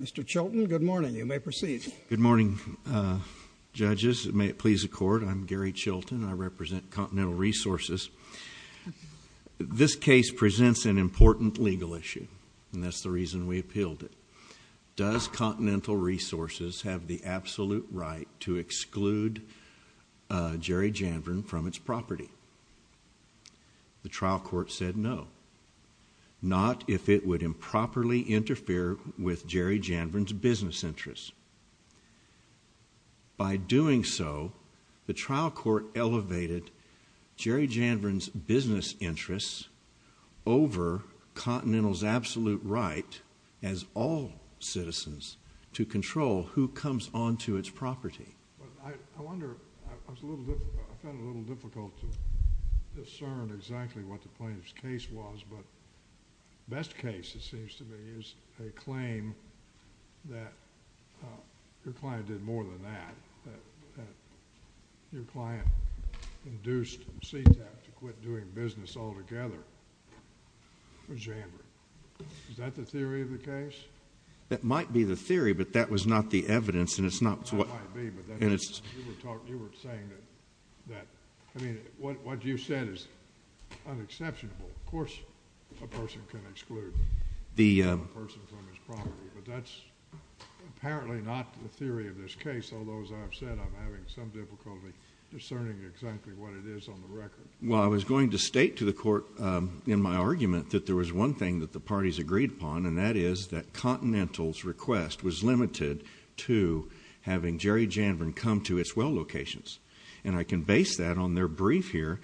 Mr. Chilton, good morning. You may proceed. Good morning, judges. May it please the Court, I'm Gary Chilton. I represent Continental Resources. This case presents an important legal issue, and that's the reason we appealed it. Does Continental Resources have the absolute right to exclude Jerry Janvrin from its property? The trial court said no, not if it would improperly interfere with Jerry Janvrin's business interests. By doing so, the trial court elevated Jerry Janvrin's business interests over Continental's absolute right as all citizens to control who comes onto its property. But I wonder... I found it a little difficult to discern exactly what the plaintiff's case was, but the best case, it seems to me, is a claim that your client did more than that, that your client induced CTAP to quit doing business altogether with Jerry Janvrin. Is that the theory of the case? That might be the theory, but that was not the evidence, and it's not... It might be, but you were saying that... I mean, what you said is unexceptional. Of course, a person can exclude a person from his property, but that's apparently not the theory of this case, although, as I've said, I'm having some difficulty discerning exactly what it is on the record. Well, I was going to state to the Court in my argument that there was one thing that the parties agreed upon, and that is that Continental's request was limited to having Jerry Janvrin come to its well locations, and I can base that on their brief here.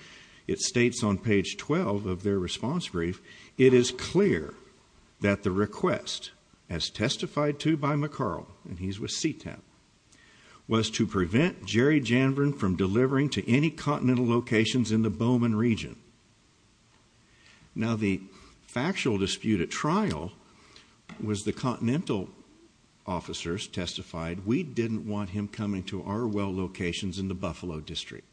It states on page 12 of their response brief, it is clear that the request, as testified to by McCarl, and he's with CTAP, was to prevent Jerry Janvrin from delivering to any Continental locations in the Bowman region. Now, the factual dispute at trial was the Continental officers testified, we didn't want him coming to our well locations in the Buffalo District.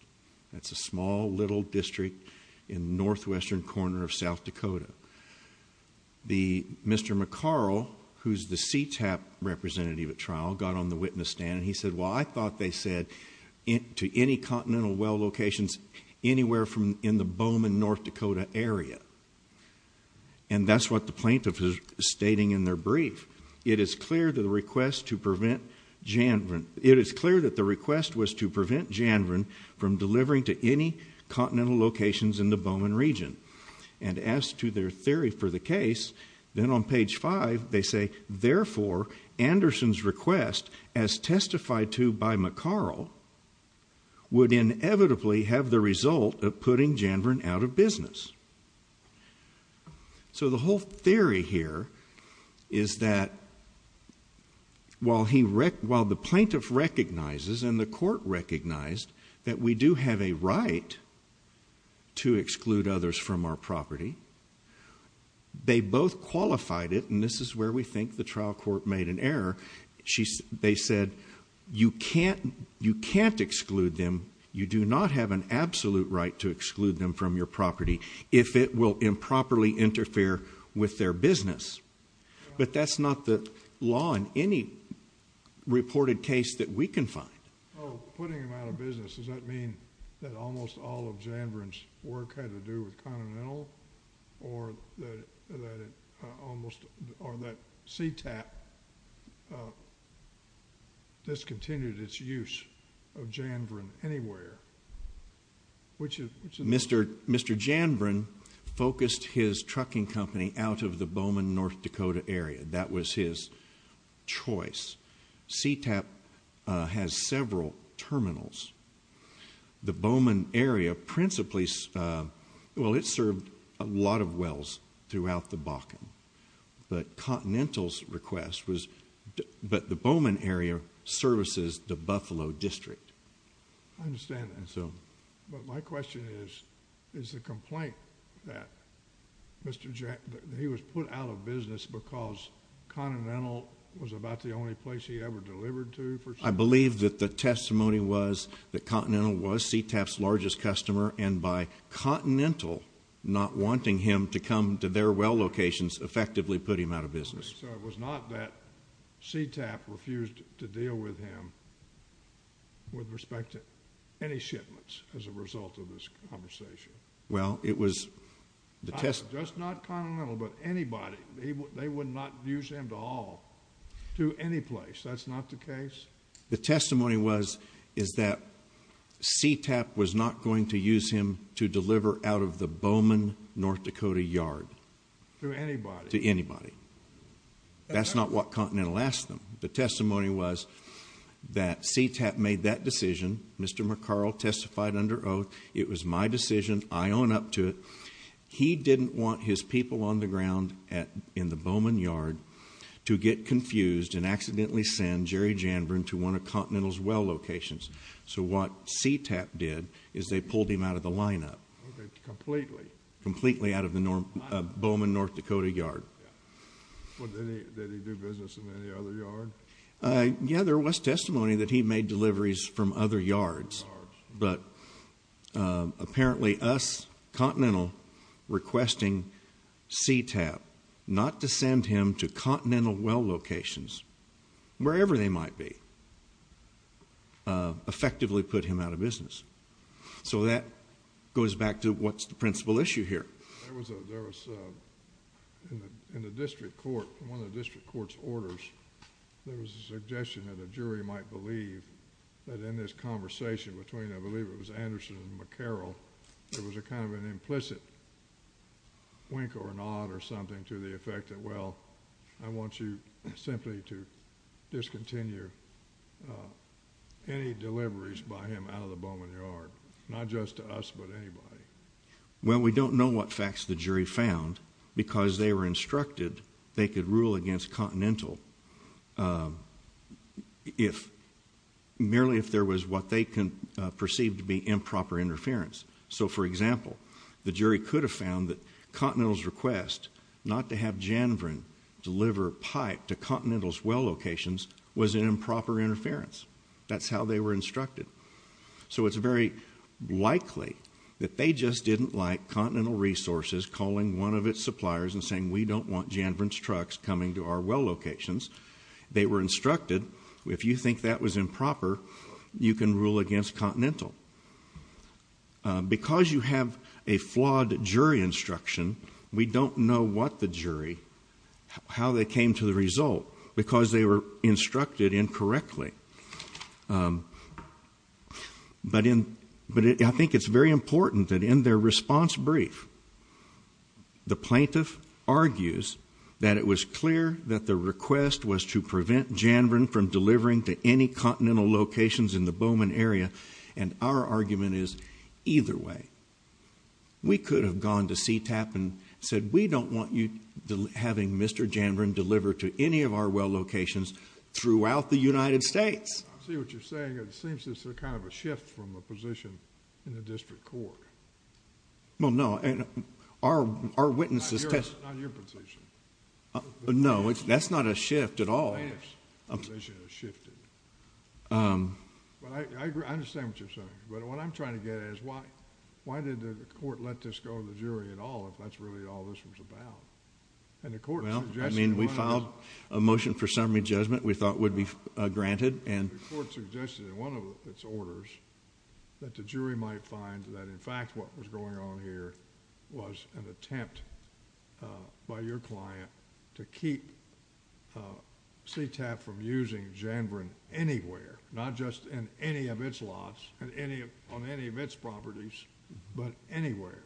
That's a small, little district in the northwestern corner of South Dakota. Mr. McCarl, who's the CTAP representative at trial, got on the witness stand, and he said, well, I thought they said to any Continental well locations anywhere in the Bowman, North Dakota area. And that's what the plaintiff is stating in their brief. It is clear that the request was to prevent Janvrin from delivering to any Continental locations in the Bowman region. And as to their theory for the case, then on page 5, they say, therefore, Anderson's request, as testified to by McCarl, would inevitably have the result of putting Janvrin out of business. So the whole theory here is that while the plaintiff recognizes and the court recognized that we do have a right to exclude others from our property, they both qualified it, and this is where we think the trial court made an error. They said, you can't exclude them, you do not have an absolute right to exclude them from your property, if it will improperly interfere with their business. But that's not the law in any reported case that we can find. Putting him out of business, does that mean that almost all of Janvrin's work had to do with Continental, or that CTAP discontinued its use of Janvrin anywhere? Mr. Janvrin focused his trucking company out of the Bowman, North Dakota area. That was his choice. CTAP has several terminals. The Bowman area principally, well, it served a lot of wells throughout the Bakken. But Continental's request was, but the Bowman area services the Buffalo District. I understand that. But my question is, is the complaint that he was put out of business because Continental was about the only place he ever delivered to? I believe that the testimony was that Continental was CTAP's largest customer, and by Continental not wanting him to come to their well locations effectively put him out of business. So it was not that CTAP refused to deal with him with respect to any shipments as a result of this conversation? Just not Continental, but anybody. They would not use him to haul to any place. That's not the case? The testimony was that CTAP was not going to use him to deliver out of the Bowman, North Dakota yard. To anybody? To anybody. That's not what Continental asked them. The testimony was that CTAP made that decision. Mr. McCarl testified under oath. It was my decision. I own up to it. He didn't want his people on the ground in the Bowman yard to get confused and accidentally send Jerry Janburn to one of Continental's well locations. So what CTAP did is they pulled him out of the lineup. Completely? Completely out of the Bowman, North Dakota yard. Did he do business in any other yard? Yeah, there was testimony that he made deliveries from other yards. Other yards. But apparently us, Continental, requesting CTAP not to send him to Continental well locations, wherever they might be, effectively put him out of business. So that goes back to what's the principal issue here. There was, in the district court, one of the district court's orders, there was a suggestion that a jury might believe that in this conversation between, I believe it was Anderson and McCarroll, there was a kind of an implicit wink or nod or something to the effect that, well, I want you simply to discontinue any deliveries by him out of the Bowman yard. Not just to us, but anybody. Well, we don't know what facts the jury found because they were instructed they could rule against Continental merely if there was what they perceived to be improper interference. So, for example, the jury could have found that Continental's request not to have Janvern deliver pipe to Continental's well locations was an improper interference. That's how they were instructed. So it's very likely that they just didn't like Continental Resources calling one of its suppliers and saying we don't want Janvern's trucks coming to our well locations. They were instructed, if you think that was improper, you can rule against Continental. Because you have a flawed jury instruction, we don't know what the jury, how they came to the result, because they were instructed incorrectly. But I think it's very important that in their response brief, the plaintiff argues that it was clear that the request was to prevent Janvern from delivering to any Continental locations in the Bowman area, and our argument is either way. We could have gone to CTAP and said we don't want you having Mr. Janvern deliver to any of our well locations throughout the United States. I see what you're saying. It seems this is kind of a shift from a position in the district court. Well, no. Our witnesses... Not your position. No, that's not a shift at all. The plaintiff's position has shifted. But I understand what you're saying. But what I'm trying to get at is why did the court let this go to the jury at all if that's really all this was about? Well, I mean, we filed a motion for summary judgment we thought would be granted. The court suggested in one of its orders that the jury might find that, in fact, what was going on here was an attempt by your client to keep CTAP from using Janvern anywhere, not just on any of its properties, but anywhere.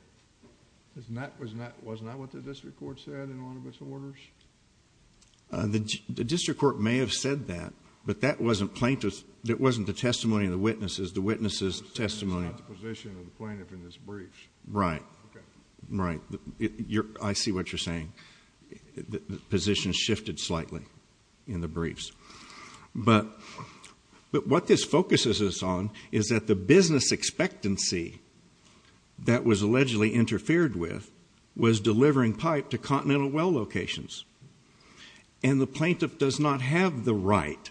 Wasn't that what the district court said in one of its orders? The district court may have said that, but that wasn't the testimony of the witnesses. The witnesses' testimony... It's not the position of the plaintiff in this brief. Right. Okay. Right. I see what you're saying. The position shifted slightly in the briefs. But what this focuses us on is that the business expectancy that was allegedly interfered with was delivering pipe to continental well locations. And the plaintiff does not have the right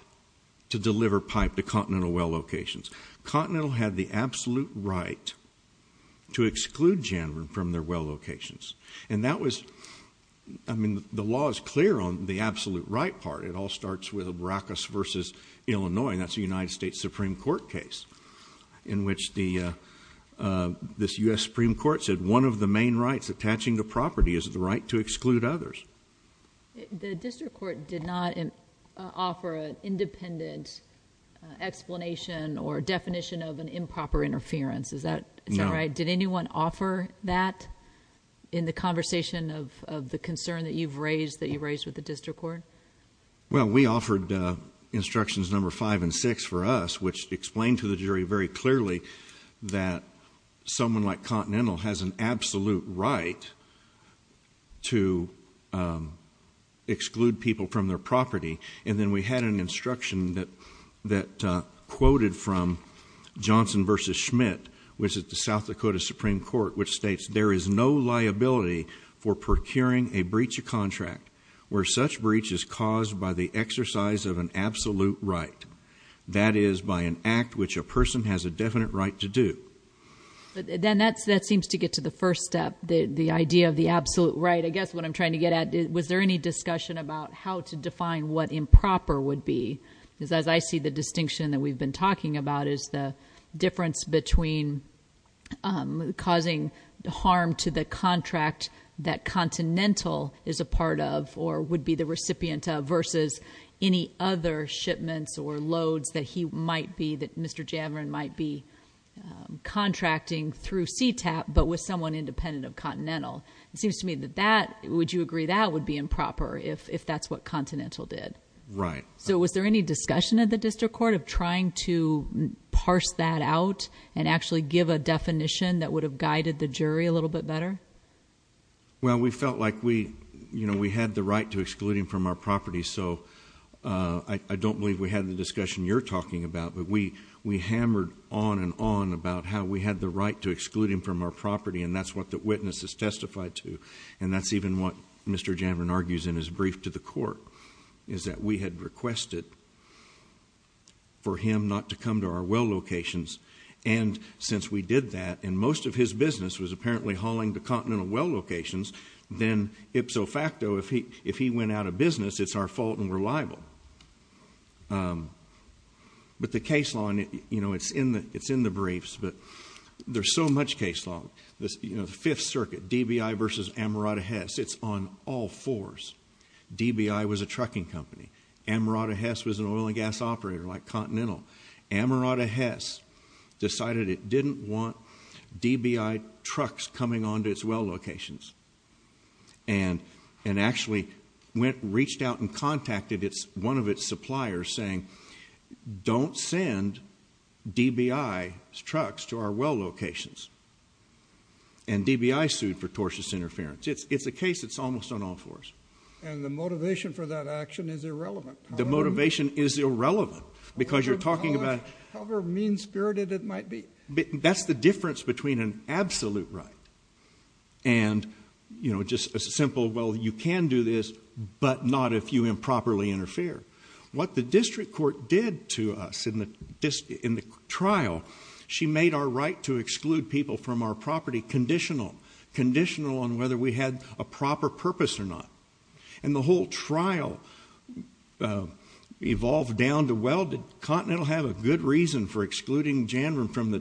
to deliver pipe to continental well locations. Continental had the absolute right to exclude Janvern from their well locations. And that was... I mean, the law is clear on the absolute right part. It all starts with a Brackus v. Illinois, and that's a United States Supreme Court case in which this U.S. Supreme Court said one of the main rights attaching to property is the right to exclude others. The district court did not offer an independent explanation or definition of an improper interference. Is that right? No. Did anyone offer that in the conversation of the concern that you've raised, that you raised with the district court? Well, we offered instructions number five and six for us, which explained to the jury very clearly that someone like Continental has an absolute right to exclude people from their property. And then we had an instruction that quoted from Johnson v. Schmidt, which is the South Dakota Supreme Court, which states there is no liability for procuring a breach of contract where such breach is caused by the exercise of an absolute right, that is, by an act which a person has a definite right to do. Then that seems to get to the first step, the idea of the absolute right. I guess what I'm trying to get at, was there any discussion about how to define what improper would be? Because as I see the distinction that we've been talking about, is the difference between causing harm to the contract that Continental is a part of, or would be the recipient of, versus any other shipments or loads that he might be, that Mr. Javren might be contracting through CTAP, but with someone independent of Continental. It seems to me that that, would you agree that would be improper, if that's what Continental did? Right. So was there any discussion at the district court of trying to parse that out and actually give a definition that would have guided the jury a little bit better? Well, we felt like we had the right to exclude him from our property, so I don't believe we had the discussion you're talking about, but we hammered on and on about how we had the right to exclude him from our property, and that's what the witness has testified to, and that's even what Mr. Javren argues in his brief to the court, is that we had requested for him not to come to our well locations, and since we did that, and most of his business was apparently hauling to Continental well locations, then ipso facto, if he went out of business, it's our fault and we're liable. But the case law, it's in the briefs, but there's so much case law. The Fifth Circuit, DBI versus Amarato-Hess, it's on all fours. DBI was a trucking company. Amarato-Hess was an oil and gas operator like Continental. Amarato-Hess decided it didn't want DBI trucks coming onto its well locations and actually reached out and contacted one of its suppliers saying, don't send DBI's trucks to our well locations, and DBI sued for tortious interference. It's a case that's almost on all fours. And the motivation for that action is irrelevant. The motivation is irrelevant because you're talking about... However mean-spirited it might be. That's the difference between an absolute right and just a simple, well, you can do this, but not if you improperly interfere. What the district court did to us in the trial, she made our right to exclude people from our property conditional, conditional on whether we had a proper purpose or not. And the whole trial evolved down to, well, did Continental have a good reason for excluding Janvin from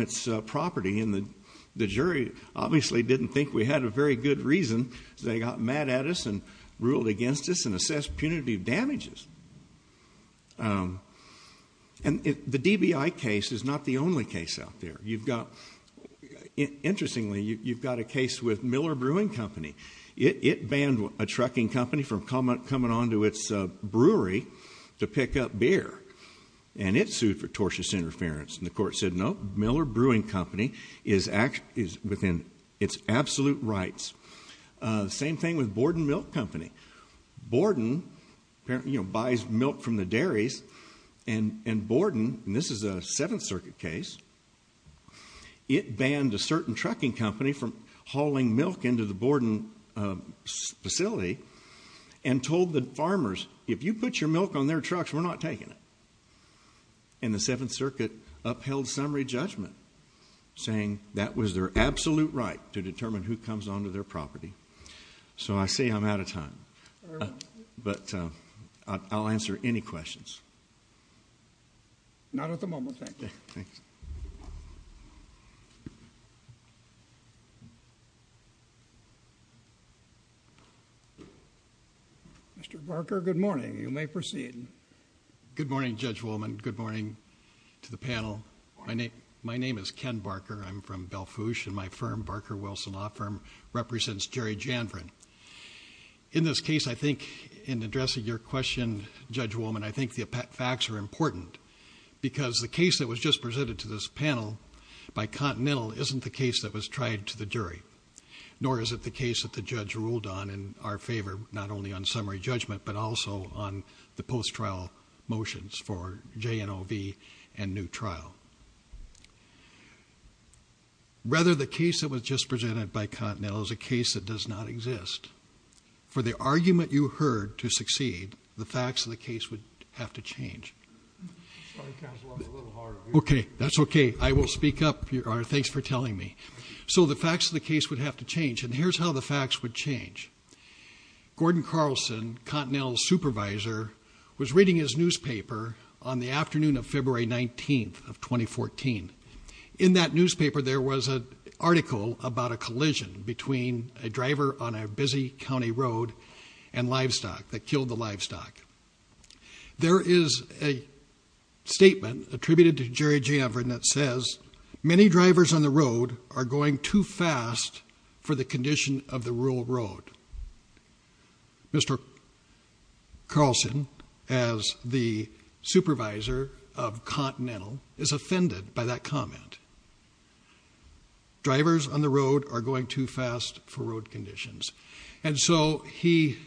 its property? And the jury obviously didn't think we had a very good reason. They got mad at us and ruled against us and assessed punitive damages. And the DBI case is not the only case out there. You've got... Interestingly, you've got a case with Miller Brewing Company. It banned a trucking company from coming onto its brewery to pick up beer, and it sued for tortious interference. And the court said, no, Miller Brewing Company is within its absolute rights. Same thing with Borden Milk Company. Borden buys milk from the dairies, and Borden, and this is a Seventh Circuit case, it banned a certain trucking company from hauling milk into the Borden facility and told the farmers, if you put your milk on their trucks, we're not taking it. And the Seventh Circuit upheld summary judgment, saying that was their absolute right to determine who comes onto their property. So I say I'm out of time, but I'll answer any questions. Not at the moment, thank you. Thanks. Mr. Barker, good morning. You may proceed. Good morning, Judge Woolman. Good morning to the panel. My name is Ken Barker. I'm from Belfouche, and my firm, Barker-Wilson Law Firm, represents Jerry Janvren. In this case, I think in addressing your question, Judge Woolman, I think the facts are important because the case that was just presented to this panel by Continental isn't the case that was tried to the jury, nor is it the case that the judge ruled on in our favor, not only on summary judgment, but also on the post-trial motions for J&OB and new trial. Rather, the case that was just presented by Continental is a case that does not exist. For the argument you heard to succeed, the facts of the case would have to change. Okay, that's okay. I will speak up. Thanks for telling me. So the facts of the case would have to change, and here's how the facts would change. Gordon Carlson, Continental's supervisor, was reading his newspaper on the afternoon of February 19th of 2014. In that newspaper, there was an article about a collision between a driver on a busy county road and livestock that killed the livestock. There is a statement attributed to Jerry Janvren that says, Many drivers on the road are going too fast for the condition of the rural road. Mr. Carlson, as the supervisor of Continental, is offended by that comment. Drivers on the road are going too fast for road conditions. And so he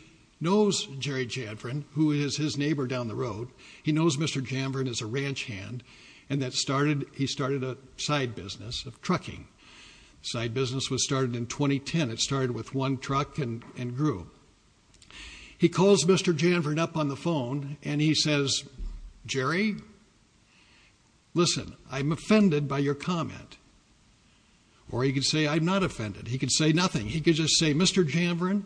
knows Jerry Janvren, who is his neighbor down the road. He knows Mr. Janvren is a ranch hand, and he started a side business of trucking. The side business was started in 2010. It started with one truck and grew. He calls Mr. Janvren up on the phone, and he says, Jerry, listen, I'm offended by your comment. Or he could say, I'm not offended. He could say nothing. He could just say, Mr. Janvren,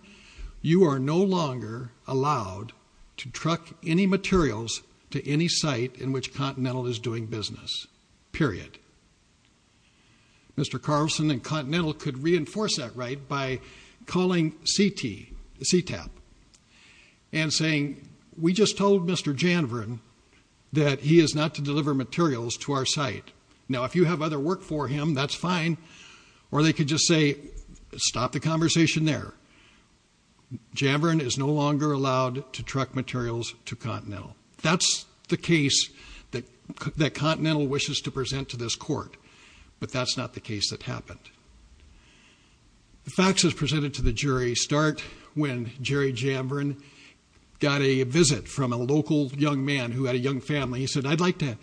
you are no longer allowed to truck any materials to any site in which Continental is doing business, period. Mr. Carlson and Continental could reinforce that right by calling CT, CTAP, and saying, we just told Mr. Janvren that he is not to deliver materials to our site. Now, if you have other work for him, that's fine. Or they could just say, stop the conversation there. Janvren is no longer allowed to truck materials to Continental. That's the case that Continental wishes to present to this court, but that's not the case that happened. The facts that are presented to the jury start when Jerry Janvren got a visit from a local young man who had a young family. He said, I'd like to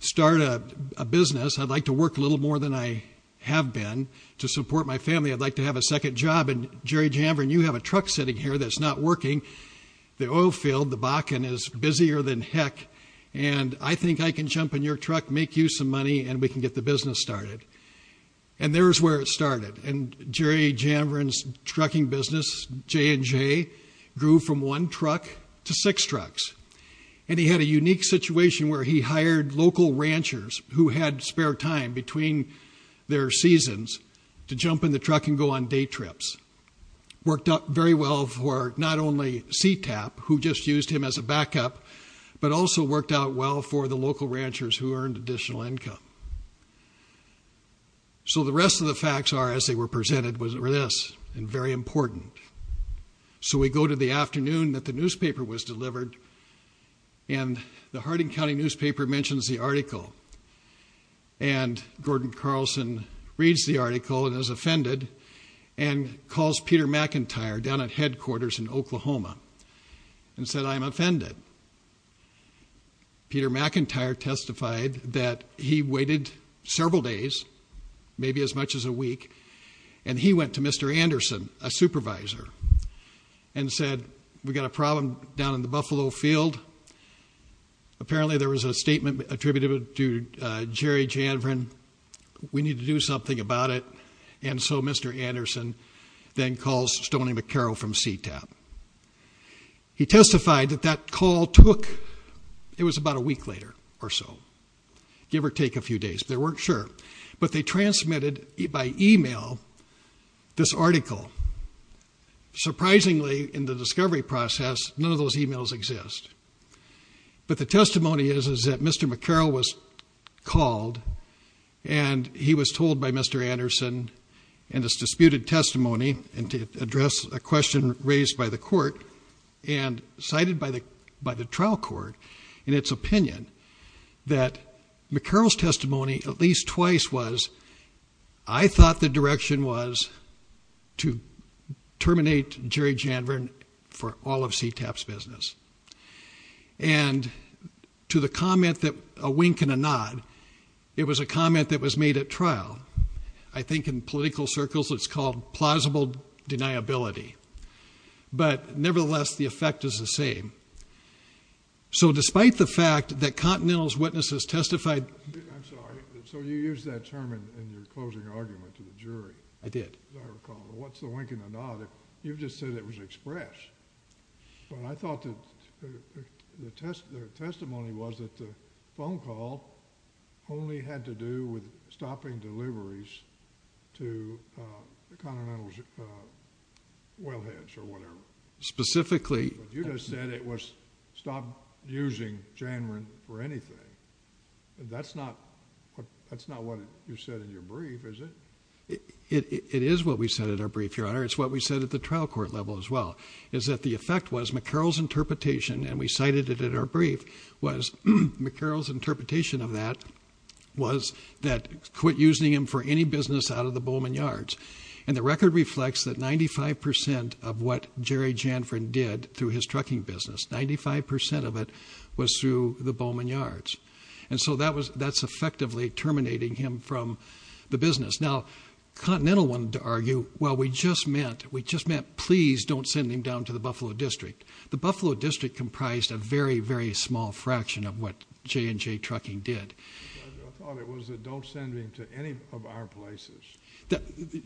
start a business. I'd like to work a little more than I have been to support my family. I'd like to have a second job. And Jerry Janvren, you have a truck sitting here that's not working. The oil field, the Bakken, is busier than heck. And I think I can jump in your truck, make you some money, and we can get the business started. And there's where it started. And Jerry Janvren's trucking business, J&J, grew from one truck to six trucks. And he had a unique situation where he hired local ranchers who had spare time between their seasons to jump in the truck and go on day trips. Worked out very well for not only CTAP, who just used him as a backup, but also worked out well for the local ranchers who earned additional income. So the rest of the facts are, as they were presented, were this, and very important. So we go to the afternoon that the newspaper was delivered, and the Harding County newspaper mentions the article. And Gordon Carlson reads the article and is offended and calls Peter McIntyre down at headquarters in Oklahoma and said, I'm offended. Peter McIntyre testified that he waited several days, maybe as much as a week, and he went to Mr. Anderson, a supervisor, and said, we've got a problem down in the Buffalo field. Apparently there was a statement attributed to Jerry Janvren. We need to do something about it. And so Mr. Anderson then calls Stoney McCarroll from CTAP. He testified that that call took, it was about a week later or so, give or take a few days, they weren't sure. But they transmitted by e-mail this article. Surprisingly, in the discovery process, none of those e-mails exist. But the testimony is that Mr. McCarroll was called, and he was told by Mr. Anderson in his disputed testimony, and to address a question raised by the court, and cited by the trial court in its opinion, that McCarroll's testimony at least twice was, I thought the direction was to terminate Jerry Janvren for all of CTAP's business. And to the comment that, a wink and a nod, it was a comment that was made at trial. I think in political circles it's called plausible deniability. But nevertheless, the effect is the same. So despite the fact that Continental's witnesses testified. I'm sorry. So you used that term in your closing argument to the jury. I did. As I recall. What's the wink and a nod? You just said it was expressed. But I thought the testimony was that the phone call only had to do with stopping deliveries to Continental's wellheads or whatever. Specifically. You just said it was stop using Janvren for anything. That's not what you said in your brief, is it? It is what we said in our brief, Your Honor. It's what we said at the trial court level as well, is that the effect was McCarroll's interpretation, and we cited it in our brief, was McCarroll's interpretation of that was that quit using him for any business out of the Bowman Yards. And the record reflects that 95% of what Jerry Janvren did through his trucking business, 95% of it was through the Bowman Yards. And so that's effectively terminating him from the business. Now, Continental wanted to argue, well, we just meant please don't send him down to the Buffalo District. The Buffalo District comprised a very, very small fraction of what J&J Trucking did. I thought it was a don't send him to any of our places.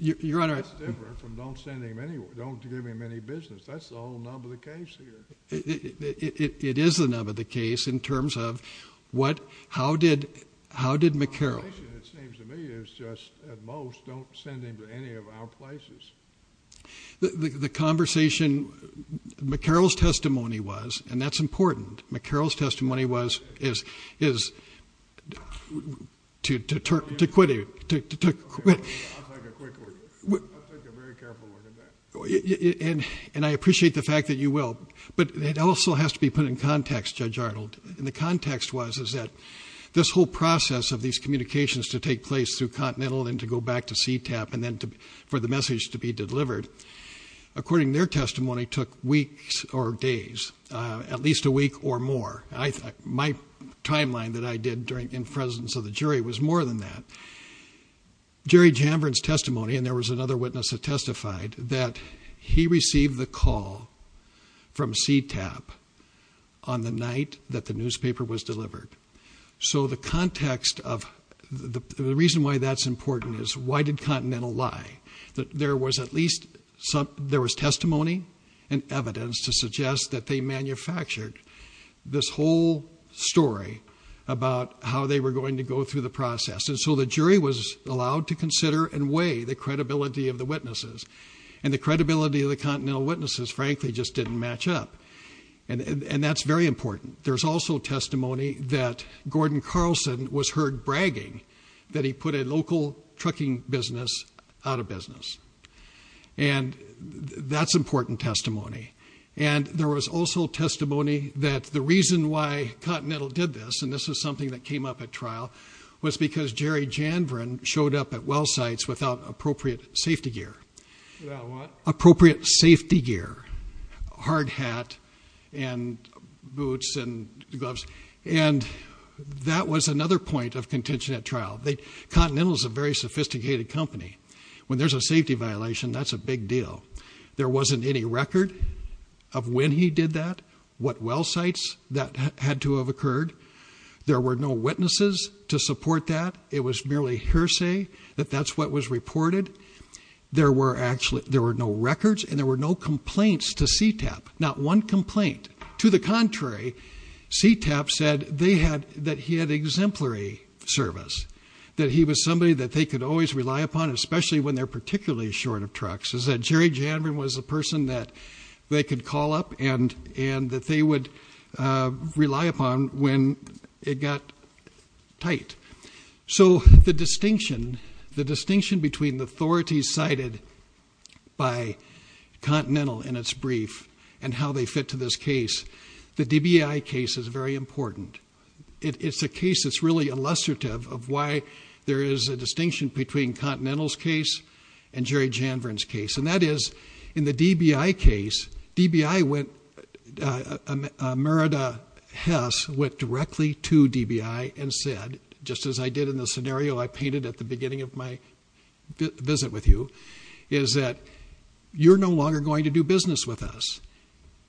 Your Honor. That's different from don't send him anywhere, don't give him any business. That's the whole nub of the case here. It is the nub of the case in terms of how did McCarroll. The conversation, it seems to me, is just at most don't send him to any of our places. The conversation, McCarroll's testimony was, and that's important, McCarroll's testimony was to quit it. I'll take a quick word. I'll take a very careful word. And I appreciate the fact that you will. But it also has to be put in context, Judge Arnold. And the context was that this whole process of these communications to take place through Continental and to go back to CTAP and then for the message to be delivered, according to their testimony, took weeks or days, at least a week or more. My timeline that I did in presence of the jury was more than that. Jerry Jambrin's testimony, and there was another witness that testified, that he received the call from CTAP on the night that the newspaper was delivered. So the context of the reason why that's important is why did Continental lie? There was testimony and evidence to suggest that they manufactured this whole story about how they were going to go through the process. And so the jury was allowed to consider and weigh the credibility of the witnesses. And the credibility of the Continental witnesses, frankly, just didn't match up. And that's very important. There's also testimony that Gordon Carlson was heard bragging that he put a local trucking business out of business. And that's important testimony. And there was also testimony that the reason why Continental did this, and this is something that came up at trial, was because Jerry Jambrin showed up at well sites without appropriate safety gear. Without what? Appropriate safety gear, hard hat and boots and gloves. And that was another point of contention at trial. Continental's a very sophisticated company. When there's a safety violation, that's a big deal. There wasn't any record of when he did that, what well sites that had to have occurred. There were no witnesses to support that. It was merely hearsay that that's what was reported. There were no records and there were no complaints to CTAP, not one complaint. To the contrary, CTAP said that he had exemplary service. That he was somebody that they could always rely upon, especially when they're particularly short of trucks. It said Jerry Jambrin was a person that they could call up and that they would rely upon when it got tight. So the distinction between the authorities cited by Continental in its brief and how they fit to this case, the DBI case is very important. It's a case that's really illustrative of why there is a distinction between Continental's case and Jerry Jambrin's case. And that is, in the DBI case, Merida Hess went directly to DBI and said, just as I did in the scenario I painted at the beginning of my visit with you, is that you're no longer going to do business with us.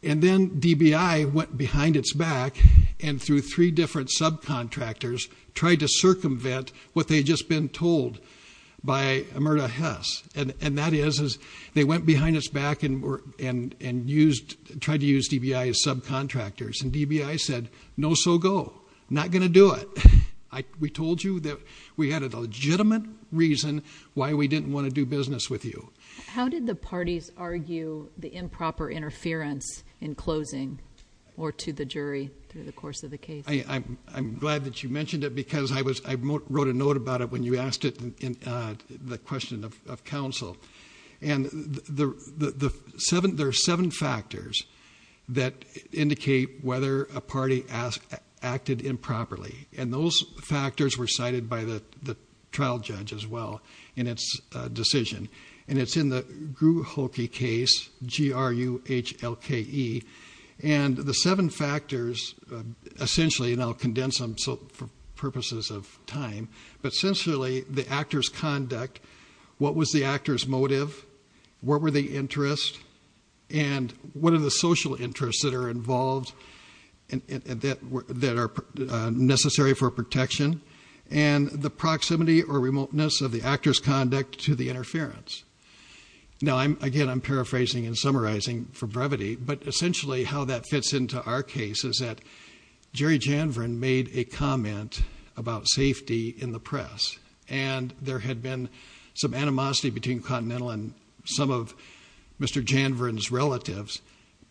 And then DBI went behind its back and through three different subcontractors tried to circumvent what they had just been told by Merida Hess. And that is, they went behind its back and tried to use DBI as subcontractors. And DBI said, no, so go. Not going to do it. We told you that we had a legitimate reason why we didn't want to do business with you. How did the parties argue the improper interference in closing or to the jury through the course of the case? I'm glad that you mentioned it because I wrote a note about it when you asked it in the question of counsel. And there are seven factors that indicate whether a party acted improperly. And those factors were cited by the trial judge as well in its decision. And it's in the Gruholke case, G-R-U-H-L-K-E. And the seven factors essentially, and I'll condense them for purposes of time, but essentially the actor's conduct, what was the actor's motive, what were the interests, and what are the social interests that are involved, that are necessary for protection, and the proximity or remoteness of the actor's conduct to the interference. Now, again, I'm paraphrasing and summarizing for brevity, but essentially how that fits into our case is that Jerry Janvern made a comment about safety in the press. And there had been some animosity between Continental and some of Mr. Janvern's relatives. It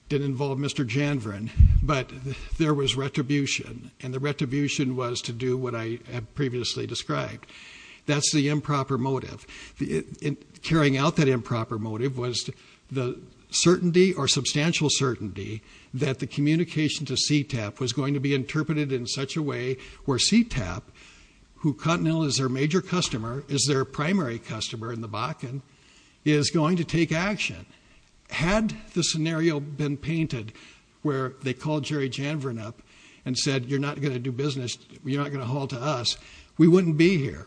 didn't involve Mr. Janvern, but there was retribution. And the retribution was to do what I had previously described. That's the improper motive. Carrying out that improper motive was the certainty or substantial certainty that the communication to CTAP was going to be interpreted in such a way where CTAP, who Continental is their major customer, is their primary customer in the Bakken, is going to take action. Had the scenario been painted where they called Jerry Janvern up and said, you're not going to do business, you're not going to haul to us, we wouldn't be here.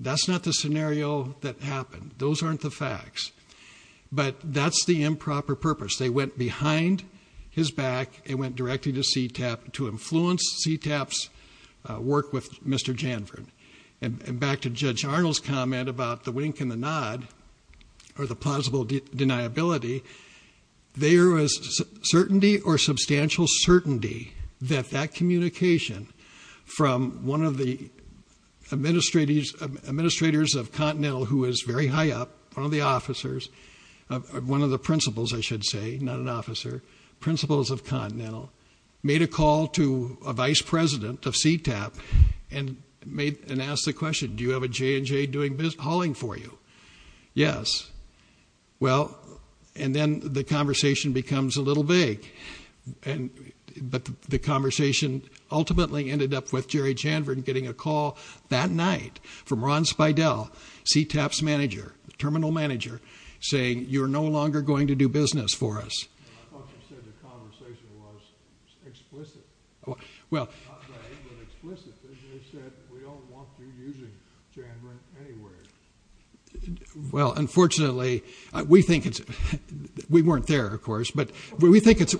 That's not the scenario that happened. Those aren't the facts. But that's the improper purpose. They went behind his back and went directly to CTAP to influence CTAP's work with Mr. Janvern. And back to Judge Arnold's comment about the wink and the nod or the plausible deniability, there was certainty or substantial certainty that that communication from one of the administrators of Continental, who is very high up, one of the officers, one of the principals, I should say, not an officer, principals of Continental, made a call to a vice president of CTAP and asked the question, do you have a J&J hauling for you? Yes. Well, and then the conversation becomes a little vague. But the conversation ultimately ended up with Jerry Janvern getting a call that night from Ron Spiedel, CTAP's manager, terminal manager, saying, you're no longer going to do business for us. I thought you said the conversation was explicit. Not vague, but explicit. They said, we don't want you using Janvern anywhere. Well, unfortunately, we think it's we weren't there, of course. But we think it's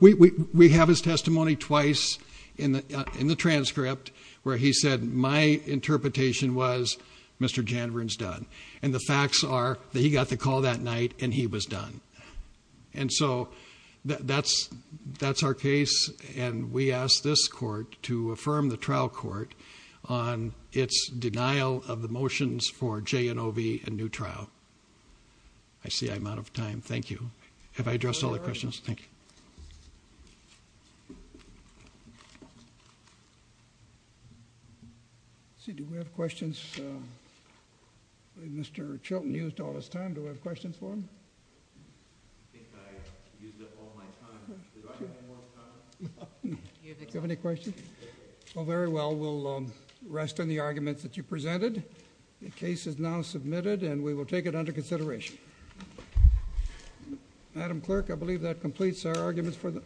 we have his testimony twice in the transcript where he said, my interpretation was Mr. Janvern's done. And the facts are that he got the call that night and he was done. And so that's our case, and we ask this court to affirm the trial court on its denial of the motions for J&OV and new trial. I see I'm out of time. Thank you. Have I addressed all the questions? Thank you. Let's see. Do we have questions? I believe Mr. Chilton used all his time. Do we have questions for him? I think I used up all my time. Do I have any more time? Do you have any questions? Well, very well. We'll rest on the arguments that you presented. The case is now submitted, and we will take it under consideration. Madam Clerk, I believe that completes our arguments for the